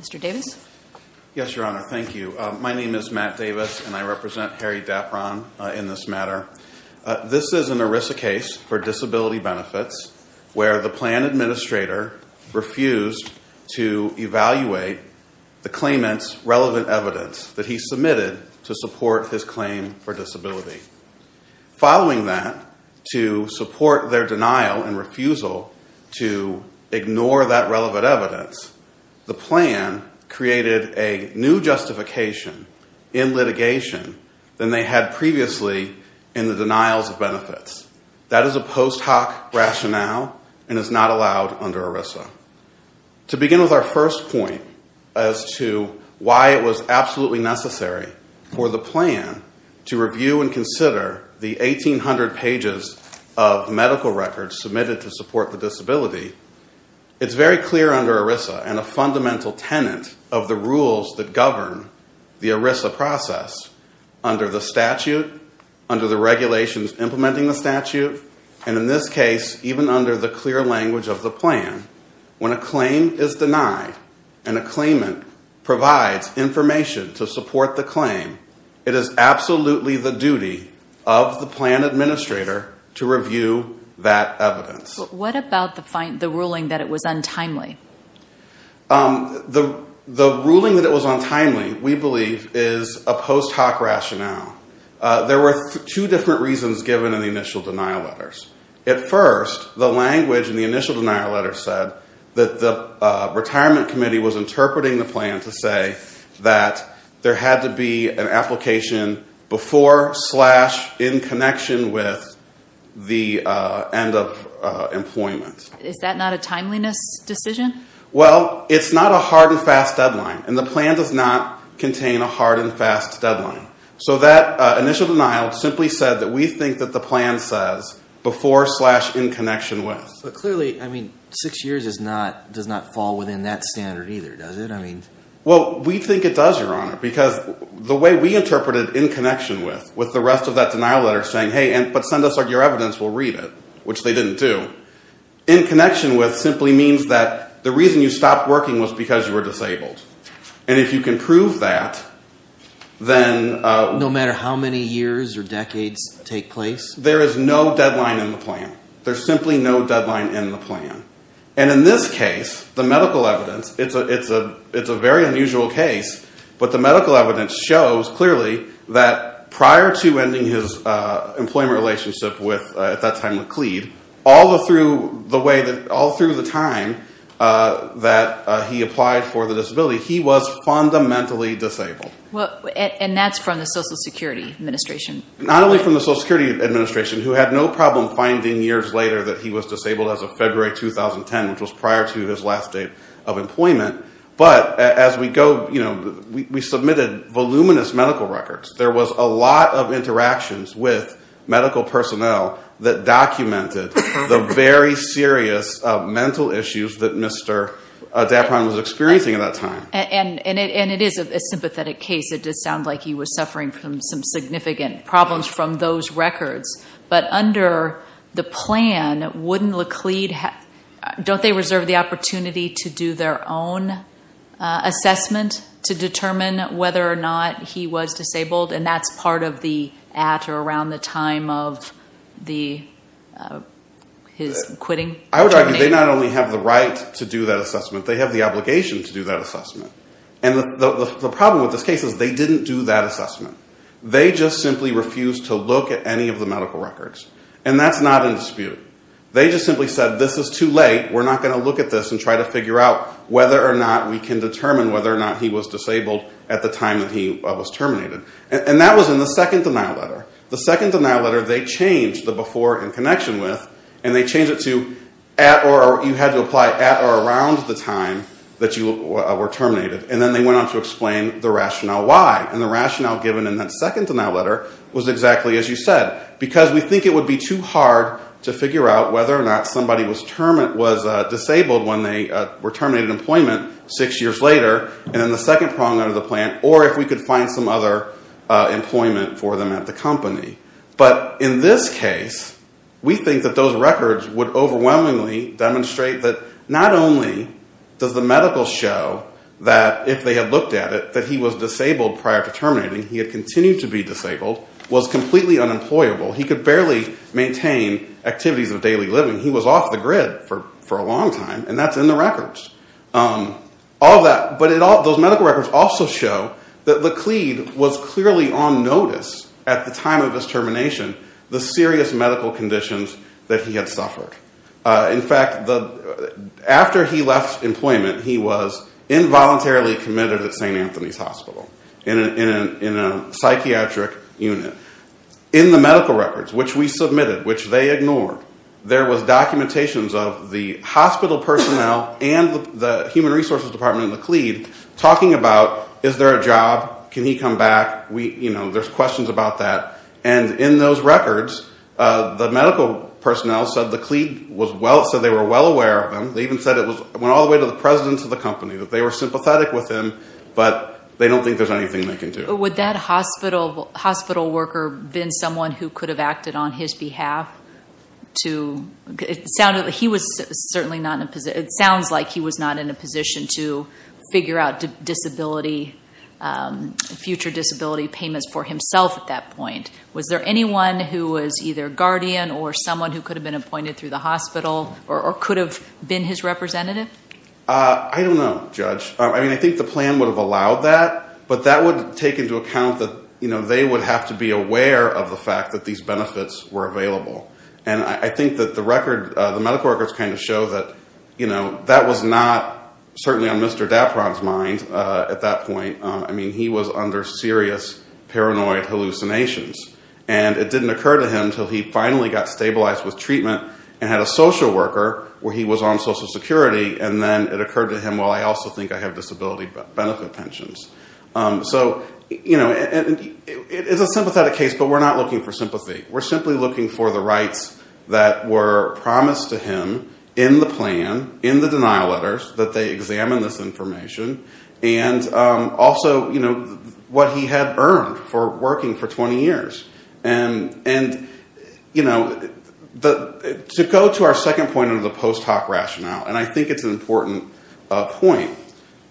Mr. Davis. Yes, Your Honor, thank you. My name is Matt Davis and I represent Harry Dapron in this matter. This is an ERISA case for disability benefits where the plan administrator refused to evaluate the claimant's relevant evidence that he submitted to support his claim for disability. Following that, to support their denial and refusal to ignore that relevant evidence, the plan created a new justification in litigation than they had previously in the denials of benefits. That is a post hoc rationale and is not allowed under ERISA. To begin with our first point as to why it was absolutely necessary for the plan to review and consider the 1800 pages of medical records submitted to support the disability, it's very clear under ERISA and a fundamental tenant of the rules that govern the ERISA process under the statute, under the regulations implementing the statute, and in this case even under the clear language of the plan, when a claim is denied and a claimant provides information to support the claim, it is absolutely the duty of the plan administrator to review that evidence. What about the ruling that it was untimely? The ruling that it was untimely, we believe, is a post hoc rationale. There were two different reasons given in the initial denial letters. At first, the language in the initial denial letter said that the retirement committee was interpreting the plan to say that there had to be an application before slash in connection with the end of employment. Is that not a timeliness decision? Well, it's not a hard and fast deadline and the plan does not contain a hard and fast deadline. So that initial denial simply said that we think that the plan says before slash in connection with. But clearly, I mean, six years does not fall within that standard either, does it? Well, we think it does, Your Honor, because the way we interpreted in connection with, with the rest of that denial letter saying, hey, but send us your evidence, we'll read it, which they didn't do. In connection with simply means that the reason you stopped working was because you were disabled. And if you can prove that, then. No matter how many years or decades take place? There is no deadline in the plan. There's simply no deadline in the plan. And in this case, the medical evidence, it's a, it's a, it's a very unusual case. But the medical evidence shows clearly that prior to ending his employment relationship with, at that time with Cleve, all the through the way that, all through the time that he applied for the disability, he was fundamentally disabled. And that's from the Social Security Administration. Not only from the Social Security Administration, who had no problem finding years later that he was disabled as of February 2010, which was prior to his last day of employment. But as we go, you know, we submitted voluminous medical records. There was a lot of interactions with medical personnel that documented the very serious mental issues that Mr. Dapron was experiencing at that time. And it is a sympathetic case. It did sound like he was suffering from some significant problems from those records. But under the plan, wouldn't Laclede, don't they reserve the opportunity to do their own assessment to determine whether or not he was disabled? And that's part of the, at or around the time of the, his quitting? I would argue they not only have the right to do that assessment, they have the obligation to do that assessment. And the problem with this case is they didn't do that assessment. They just simply refused to look at any of the medical records. And that's not in dispute. They just simply said, this is too late, we're not going to look at this and try to figure out whether or not we can determine whether or not he was disabled at the time that he was terminated. And that was in the second denial letter. The second denial letter, they changed the before in connection with, and they changed it to at or, you had to apply at or around the time that you were terminated. And then they went on to explain the rationale why. And the rationale given in that second denial letter was exactly as you said. Because we think it would be too hard to figure out whether or not somebody was disabled when they were terminated in employment six years later. And then the second problem under the plan, or if we could find some other employment for them at the company. But in this case, we think that those records would overwhelmingly demonstrate that not only does the medical show that if they had looked at it, that he was disabled prior to terminating. He had continued to be disabled. Was completely unemployable. He could barely maintain activities of daily living. He was off the grid for a long time. And that's in the records. All that, but those medical records also show that Laclede was clearly on notice at the time of his termination, the serious medical conditions that he had suffered. In fact, after he left employment, he was involuntarily committed at St. Anthony's Hospital in a psychiatric unit. In the medical records, which we submitted, which they ignored, there was documentation of the hospital personnel and the human resources department at Laclede talking about, is there a job? Can he come back? There's questions about that. And in those records, the medical personnel said Laclede was well, said they were well aware of him. They even said it went all the way to the president of the company. That they were sympathetic with him, but they don't think there's anything they can do. Would that hospital worker have been someone who could have acted on his behalf? It sounds like he was not in a position to figure out disability, future disability payments for himself at that point. Was there anyone who was either a guardian or someone who could have been appointed through the hospital or could have been his representative? I don't know, Judge. I mean, I think the plan would have allowed that, but that would take into account that they would have to be aware of the fact that these benefits were available. And I think that the medical records kind of show that that was not certainly on Mr. Dapron's mind at that point. I mean, he was under serious paranoid hallucinations. And it didn't occur to him until he finally got stabilized with treatment and had a social worker where he was on social security. And then it occurred to him, well, I also think I have disability benefit pensions. So, you know, it's a sympathetic case, but we're not looking for sympathy. We're simply looking for the rights that were promised to him in the plan, in the denial letters, that they examine this information. And also, you know, what he had earned for working for 20 years. And, you know, to go to our second point of the post hoc rationale, and I think it's an important point,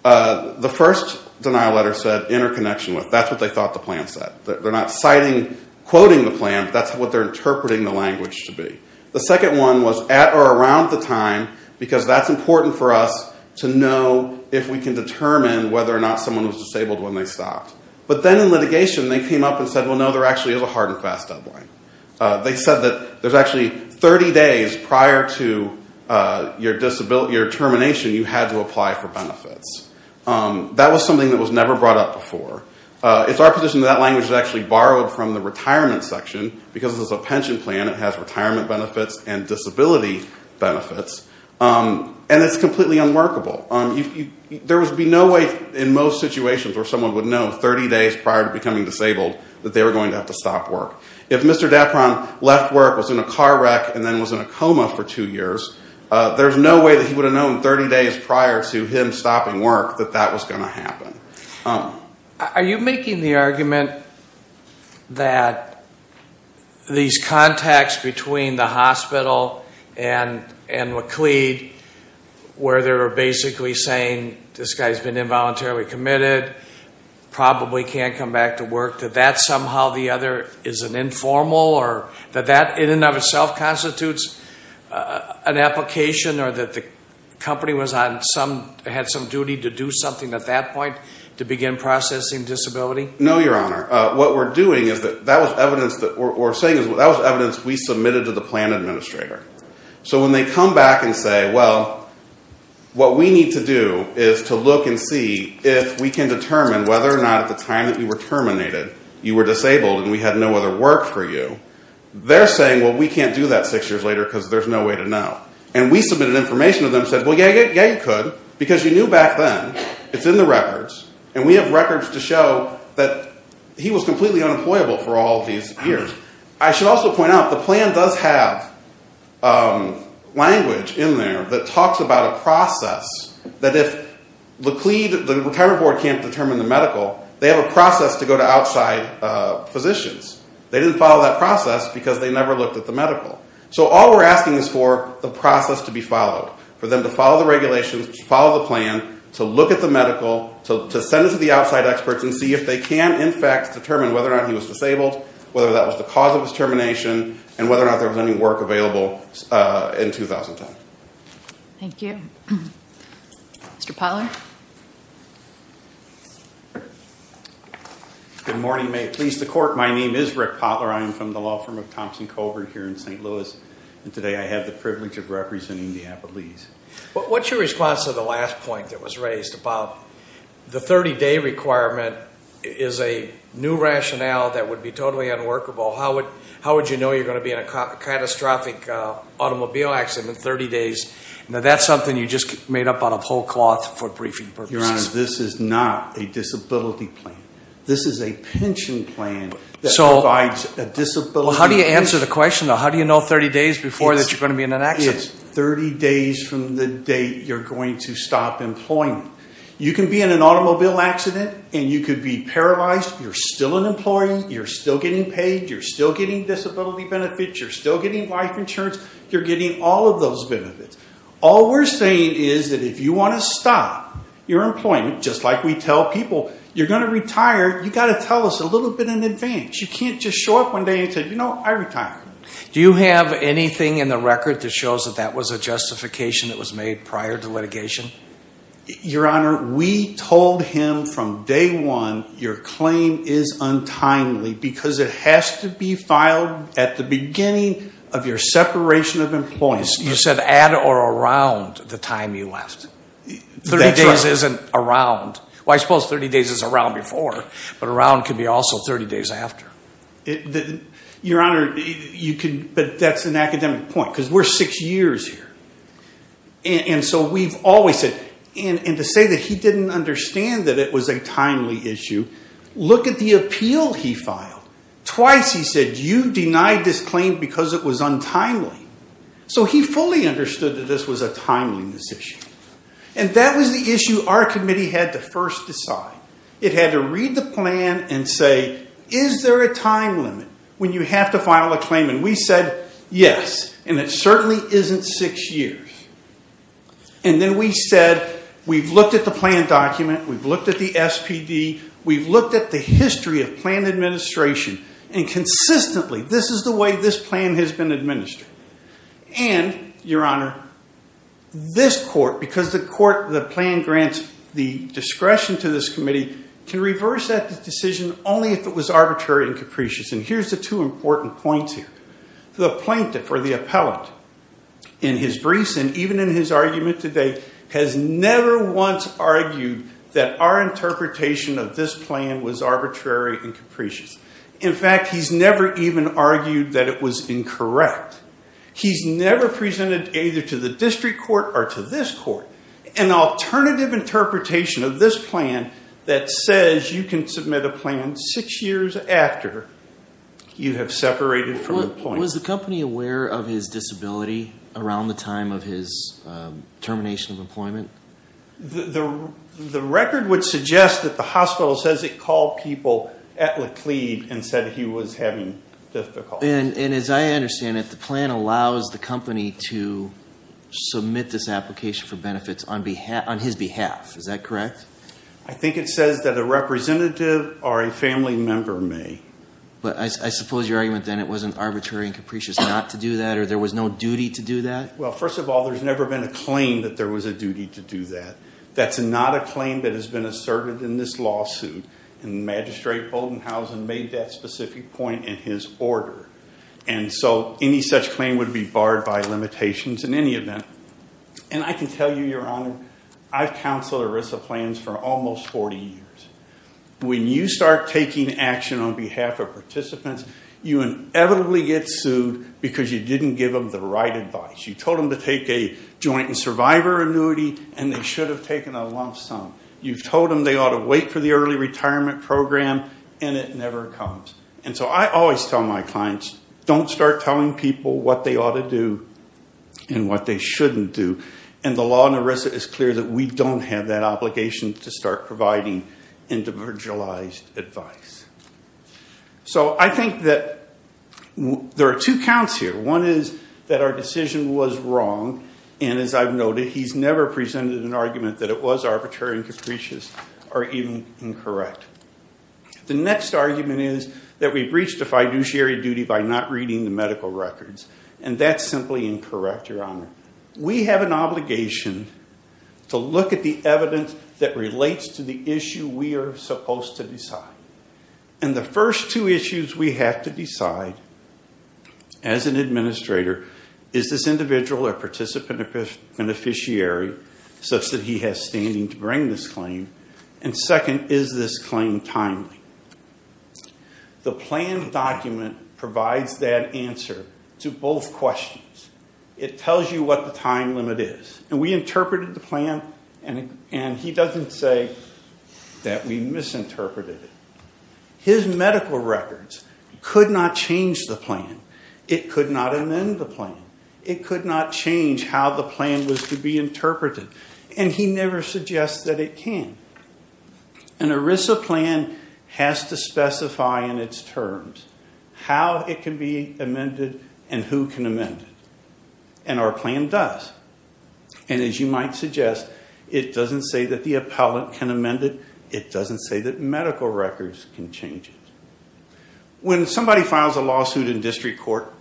the first denial letter said interconnection. That's what they thought the plan said. They're not citing, quoting the plan. That's what they're interpreting the language to be. The second one was at or around the time, because that's important for us to know if we can determine whether or not someone was disabled when they stopped. But then in litigation, they came up and said, well, no, there actually is a hard and fast deadline. They said that there's actually 30 days prior to your termination, you had to apply for benefits. That was something that was never brought up before. It's our position that that language is actually borrowed from the retirement section, because it's a pension plan. It has retirement benefits and disability benefits. And it's completely unworkable. There would be no way in most situations where someone would know 30 days prior to becoming disabled that they were going to have to stop work. If Mr. Dapron left work, was in a car wreck, and then was in a coma for two years, there's no way that he would have known 30 days prior to him stopping work that that was going to happen. Are you making the argument that these contacts between the hospital and McLeed, where they're basically saying this guy's been involuntarily committed, probably can't come back to work, that that somehow or the other is an informal, or that that in and of itself constitutes an application, or that the company had some duty to do something at that point to begin processing disability? No, Your Honor. What we're saying is that that was evidence we submitted to the plan administrator. So when they come back and say, well, what we need to do is to look and see if we can determine whether or not at the time that you were terminated, you were disabled and we had no other work for you, they're saying, well, we can't do that six years later because there's no way to know. And we submitted information to them and said, well, yeah, you could, because you knew back then, it's in the records, and we have records to show that he was completely unemployable for all these years. I should also point out, the plan does have language in there that talks about a process, that if McLeed, the retirement board can't determine the medical, they have a process to go to outside physicians. They didn't follow that process because they never looked at the medical. So all we're asking is for the process to be followed, for them to follow the regulations, follow the plan, to look at the medical, to send it to the outside experts and see if they can, in fact, determine whether or not he was disabled, whether that was the cause of his termination, and whether or not there was any work available in 2010. Thank you. Mr. Potler? Good morning. May it please the Court, my name is Rick Potler. I am from the law firm of Thompson Colbert here in St. Louis, and today I have the privilege of representing the Appalachians. What's your response to the last point that was raised about the 30-day requirement is a new rationale that would be totally unworkable? How would you know you're going to be in a catastrophic automobile accident in 30 days? Now, that's something you just made up out of whole cloth for briefing purposes. Your Honor, this is not a disability plan. This is a pension plan that provides a disability. Well, how do you answer the question, though? How do you know 30 days before that you're going to be in an accident? It's 30 days from the date you're going to stop employment. You can be in an automobile accident and you could be paralyzed. You're still an employee. You're still getting paid. You're still getting disability benefits. You're still getting life insurance. You're getting all of those benefits. All we're saying is that if you want to stop your employment, just like we tell people, you're going to retire, you've got to tell us a little bit in advance. You can't just show up one day and say, you know, I retire. Do you have anything in the record that shows that that was a justification that was made prior to litigation? Your Honor, we told him from day one your claim is untimely because it has to be filed at the beginning of your separation of employment. You said at or around the time you left. That's right. 30 days isn't around. Well, I suppose 30 days is around before, but around could be also 30 days after. Your Honor, you could, but that's an academic point because we're six years here. And so we've always said, and to say that he didn't understand that it was a timely issue, look at the appeal he filed. Twice he said, you denied this claim because it was untimely. So he fully understood that this was a timeliness issue. And that was the issue our committee had to first decide. It had to read the plan and say, is there a time limit when you have to file a claim? And we said, yes, and it certainly isn't six years. And then we said, we've looked at the plan document, we've looked at the SPD, we've looked at the history of plan administration, and consistently this is the way this plan has been administered. And, Your Honor, this court, because the plan grants the discretion to this committee, can reverse that decision only if it was arbitrary and capricious. And here's the two important points here. The plaintiff or the appellant in his briefs and even in his argument today has never once argued that our interpretation of this plan was arbitrary and capricious. In fact, he's never even argued that it was incorrect. He's never presented either to the district court or to this court an alternative interpretation of this plan that says you can submit a plan six years after you have separated from employment. Was the company aware of his disability around the time of his termination of employment? The record would suggest that the hospital says it called people at Laclede and said he was having difficulty. And as I understand it, the plan allows the company to submit this application for benefits on his behalf. Is that correct? I think it says that a representative or a family member may. But I suppose your argument then it wasn't arbitrary and capricious not to do that or there was no duty to do that? Well, first of all, there's never been a claim that there was a duty to do that. That's not a claim that has been asserted in this lawsuit. And Magistrate Bodenhausen made that specific point in his order. And so any such claim would be barred by limitations in any event. And I can tell you, Your Honor, I've counseled ERISA plans for almost 40 years. When you start taking action on behalf of participants, you inevitably get sued because you didn't give them the right advice. You told them to take a joint and survivor annuity, and they should have taken a lump sum. You told them they ought to wait for the early retirement program, and it never comes. And so I always tell my clients, don't start telling people what they ought to do and what they shouldn't do. And the law in ERISA is clear that we don't have that obligation to start providing individualized advice. So I think that there are two counts here. One is that our decision was wrong, and as I've noted, he's never presented an argument that it was arbitrary and capricious or even incorrect. The next argument is that we breached a fiduciary duty by not reading the medical records. And that's simply incorrect, Your Honor. We have an obligation to look at the evidence that relates to the issue we are supposed to decide. And the first two issues we have to decide, as an administrator, is this individual or participant an officiary such that he has standing to bring this claim? And second, is this claim timely? The plan document provides that answer to both questions. It tells you what the time limit is. And we interpreted the plan, and he doesn't say that we misinterpreted it. His medical records could not change the plan. It could not amend the plan. It could not change how the plan was to be interpreted. And he never suggests that it can. An ERISA plan has to specify in its terms how it can be amended and who can amend it. And our plan does. And as you might suggest, it doesn't say that the appellant can amend it. It doesn't say that medical records can change it. When somebody files a lawsuit in district court,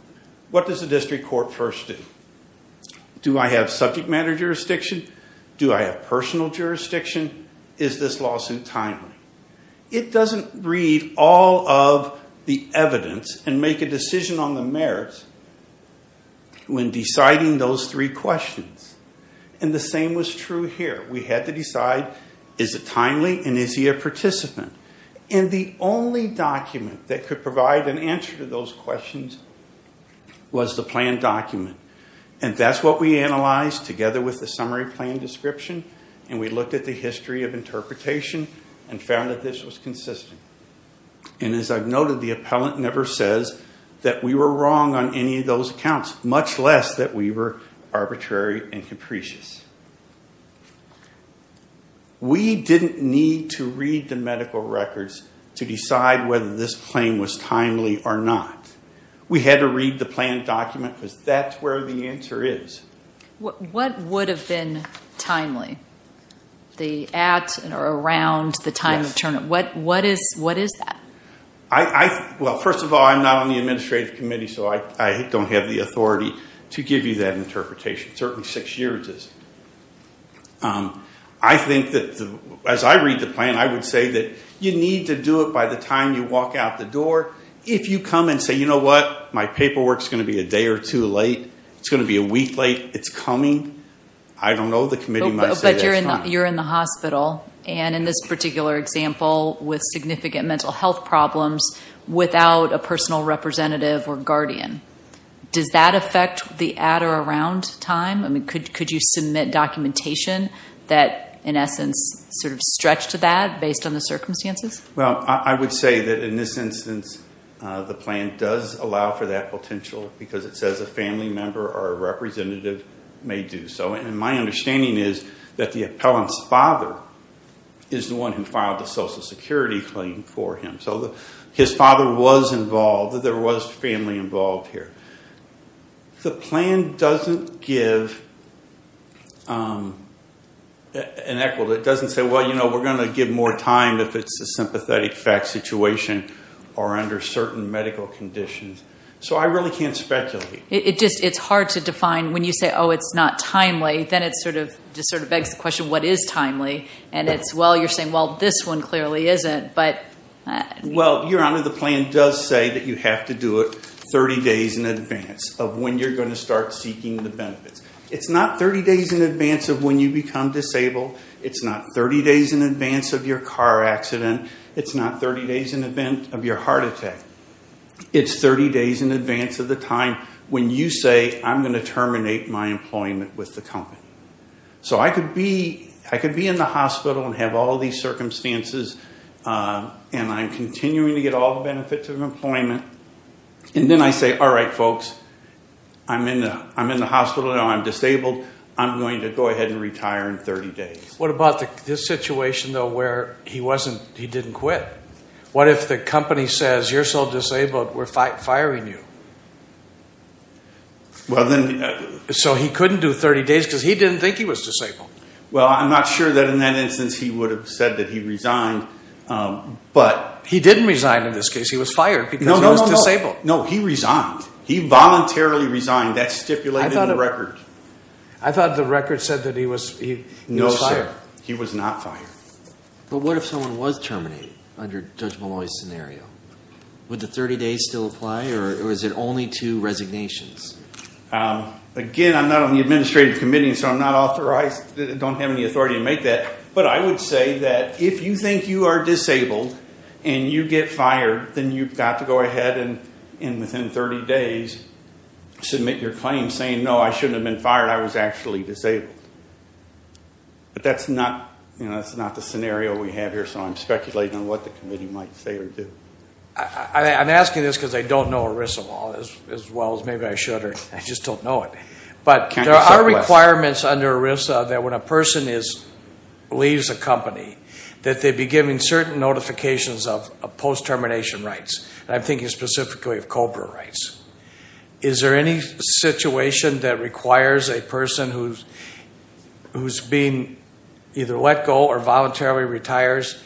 what does the district court first do? Do I have subject matter jurisdiction? Do I have personal jurisdiction? Is this lawsuit timely? It doesn't read all of the evidence and make a decision on the merits when deciding those three questions. And the same was true here. We had to decide, is it timely and is he a participant? And the only document that could provide an answer to those questions was the plan document. And that's what we analyzed together with the summary plan description. And we looked at the history of interpretation and found that this was consistent. And as I've noted, the appellant never says that we were wrong on any of those accounts, much less that we were arbitrary and capricious. We didn't need to read the medical records to decide whether this claim was timely or not. We had to read the plan document because that's where the answer is. What would have been timely? The at or around the time of term? What is that? Well, first of all, I'm not on the administrative committee, so I don't have the authority to give you that interpretation. Certainly six years is. I think that as I read the plan, I would say that you need to do it by the time you walk out the door. If you come and say, you know what, my paperwork is going to be a day or two late, it's going to be a week late, it's coming, I don't know. The committee might say that's fine. But you're in the hospital, and in this particular example, with significant mental health problems without a personal representative or guardian. Does that affect the at or around time? I mean, could you submit documentation that, in essence, sort of stretched to that based on the circumstances? Well, I would say that in this instance the plan does allow for that potential because it says a family member or a representative may do so. And my understanding is that the appellant's father is the one who filed the Social Security claim for him. So his father was involved. There was family involved here. The plan doesn't give an equivalent. It doesn't say, well, you know, we're going to give more time if it's a sympathetic fact situation or under certain medical conditions. So I really can't speculate. It's hard to define when you say, oh, it's not timely. Then it sort of begs the question, what is timely? And it's, well, you're saying, well, this one clearly isn't. Well, Your Honor, the plan does say that you have to do it 30 days in advance of when you're going to start seeking the benefits. It's not 30 days in advance of when you become disabled. It's not 30 days in advance of your car accident. It's not 30 days in advance of your heart attack. It's 30 days in advance of the time when you say, I'm going to terminate my employment with the company. So I could be in the hospital and have all these circumstances, and I'm continuing to get all the benefits of employment, and then I say, all right, folks, I'm in the hospital now. I'm disabled. I'm going to go ahead and retire in 30 days. What about this situation, though, where he didn't quit? What if the company says, you're so disabled, we're firing you? So he couldn't do 30 days because he didn't think he was disabled. Well, I'm not sure that in that instance he would have said that he resigned. He didn't resign in this case. He was fired because he was disabled. No, he resigned. He voluntarily resigned. That's stipulated in the record. I thought the record said that he was fired. No, sir. He was not fired. But what if someone was terminated under Judge Malloy's scenario? Would the 30 days still apply, or is it only two resignations? Again, I'm not on the administrative committee, so I'm not authorized, don't have any authority to make that. But I would say that if you think you are disabled and you get fired, then you've got to go ahead and within 30 days submit your claim saying, no, I shouldn't have been fired. I was actually disabled. But that's not the scenario we have here, so I'm speculating on what the committee might say or do. I'm asking this because I don't know ERISA law as well as maybe I should, or I just don't know it. But there are requirements under ERISA that when a person leaves a company that they be given certain notifications of post-termination rights, and I'm thinking specifically of COBRA rights. Is there any situation that requires a person who's being either let go or voluntarily retires,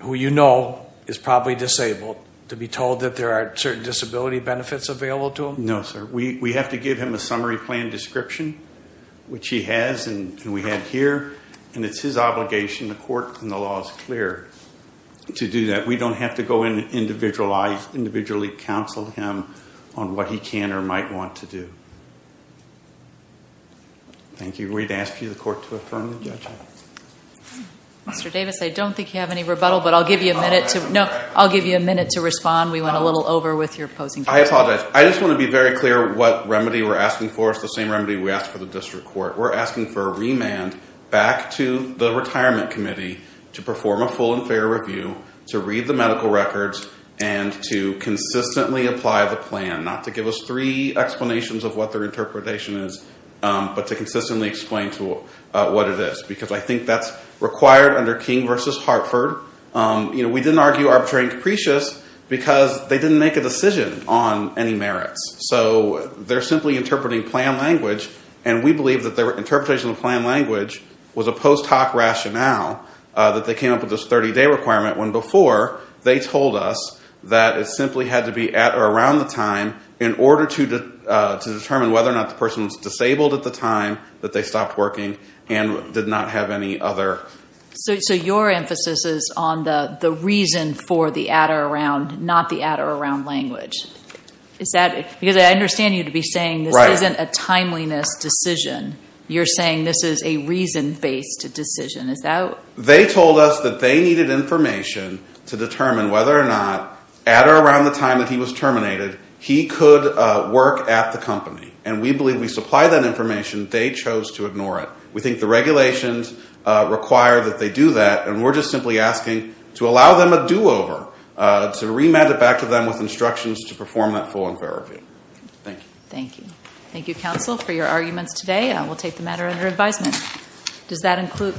who you know is probably disabled, to be told that there are certain disability benefits available to them? No, sir. We have to give him a summary plan description, which he has, and we have here. And it's his obligation, the court and the law is clear to do that. We don't have to go in and individually counsel him on what he can or might want to do. Thank you. We'd ask you, the court, to affirm the judgment. Mr. Davis, I don't think you have any rebuttal, but I'll give you a minute. No, I'll give you a minute to respond. We went a little over with your opposing case. I apologize. I just want to be very clear what remedy we're asking for. It's the same remedy we asked for the district court. We're asking for a remand back to the retirement committee to perform a full and fair review, to read the medical records, and to consistently apply the plan. Not to give us three explanations of what their interpretation is, but to consistently explain what it is, because I think that's required under King v. Hartford. We didn't argue arbitration capricious because they didn't make a decision on any merits. So they're simply interpreting plan language, and we believe that their interpretation of plan language was a post hoc rationale that they came up with this 30-day requirement, when before they told us that it simply had to be at or around the time in order to determine whether or not the person was disabled at the time, that they stopped working, and did not have any other. So your emphasis is on the reason for the at or around, not the at or around language. Because I understand you to be saying this isn't a timeliness decision. You're saying this is a reason-based decision. They told us that they needed information to determine whether or not, at or around the time that he was terminated, he could work at the company. And we believe we supplied that information. They chose to ignore it. We think the regulations require that they do that, and we're just simply asking to allow them a do-over, to remand it back to them with instructions to perform that full and fair review. Thank you. Thank you. Thank you, counsel, for your arguments today. We'll take the matter under advisement.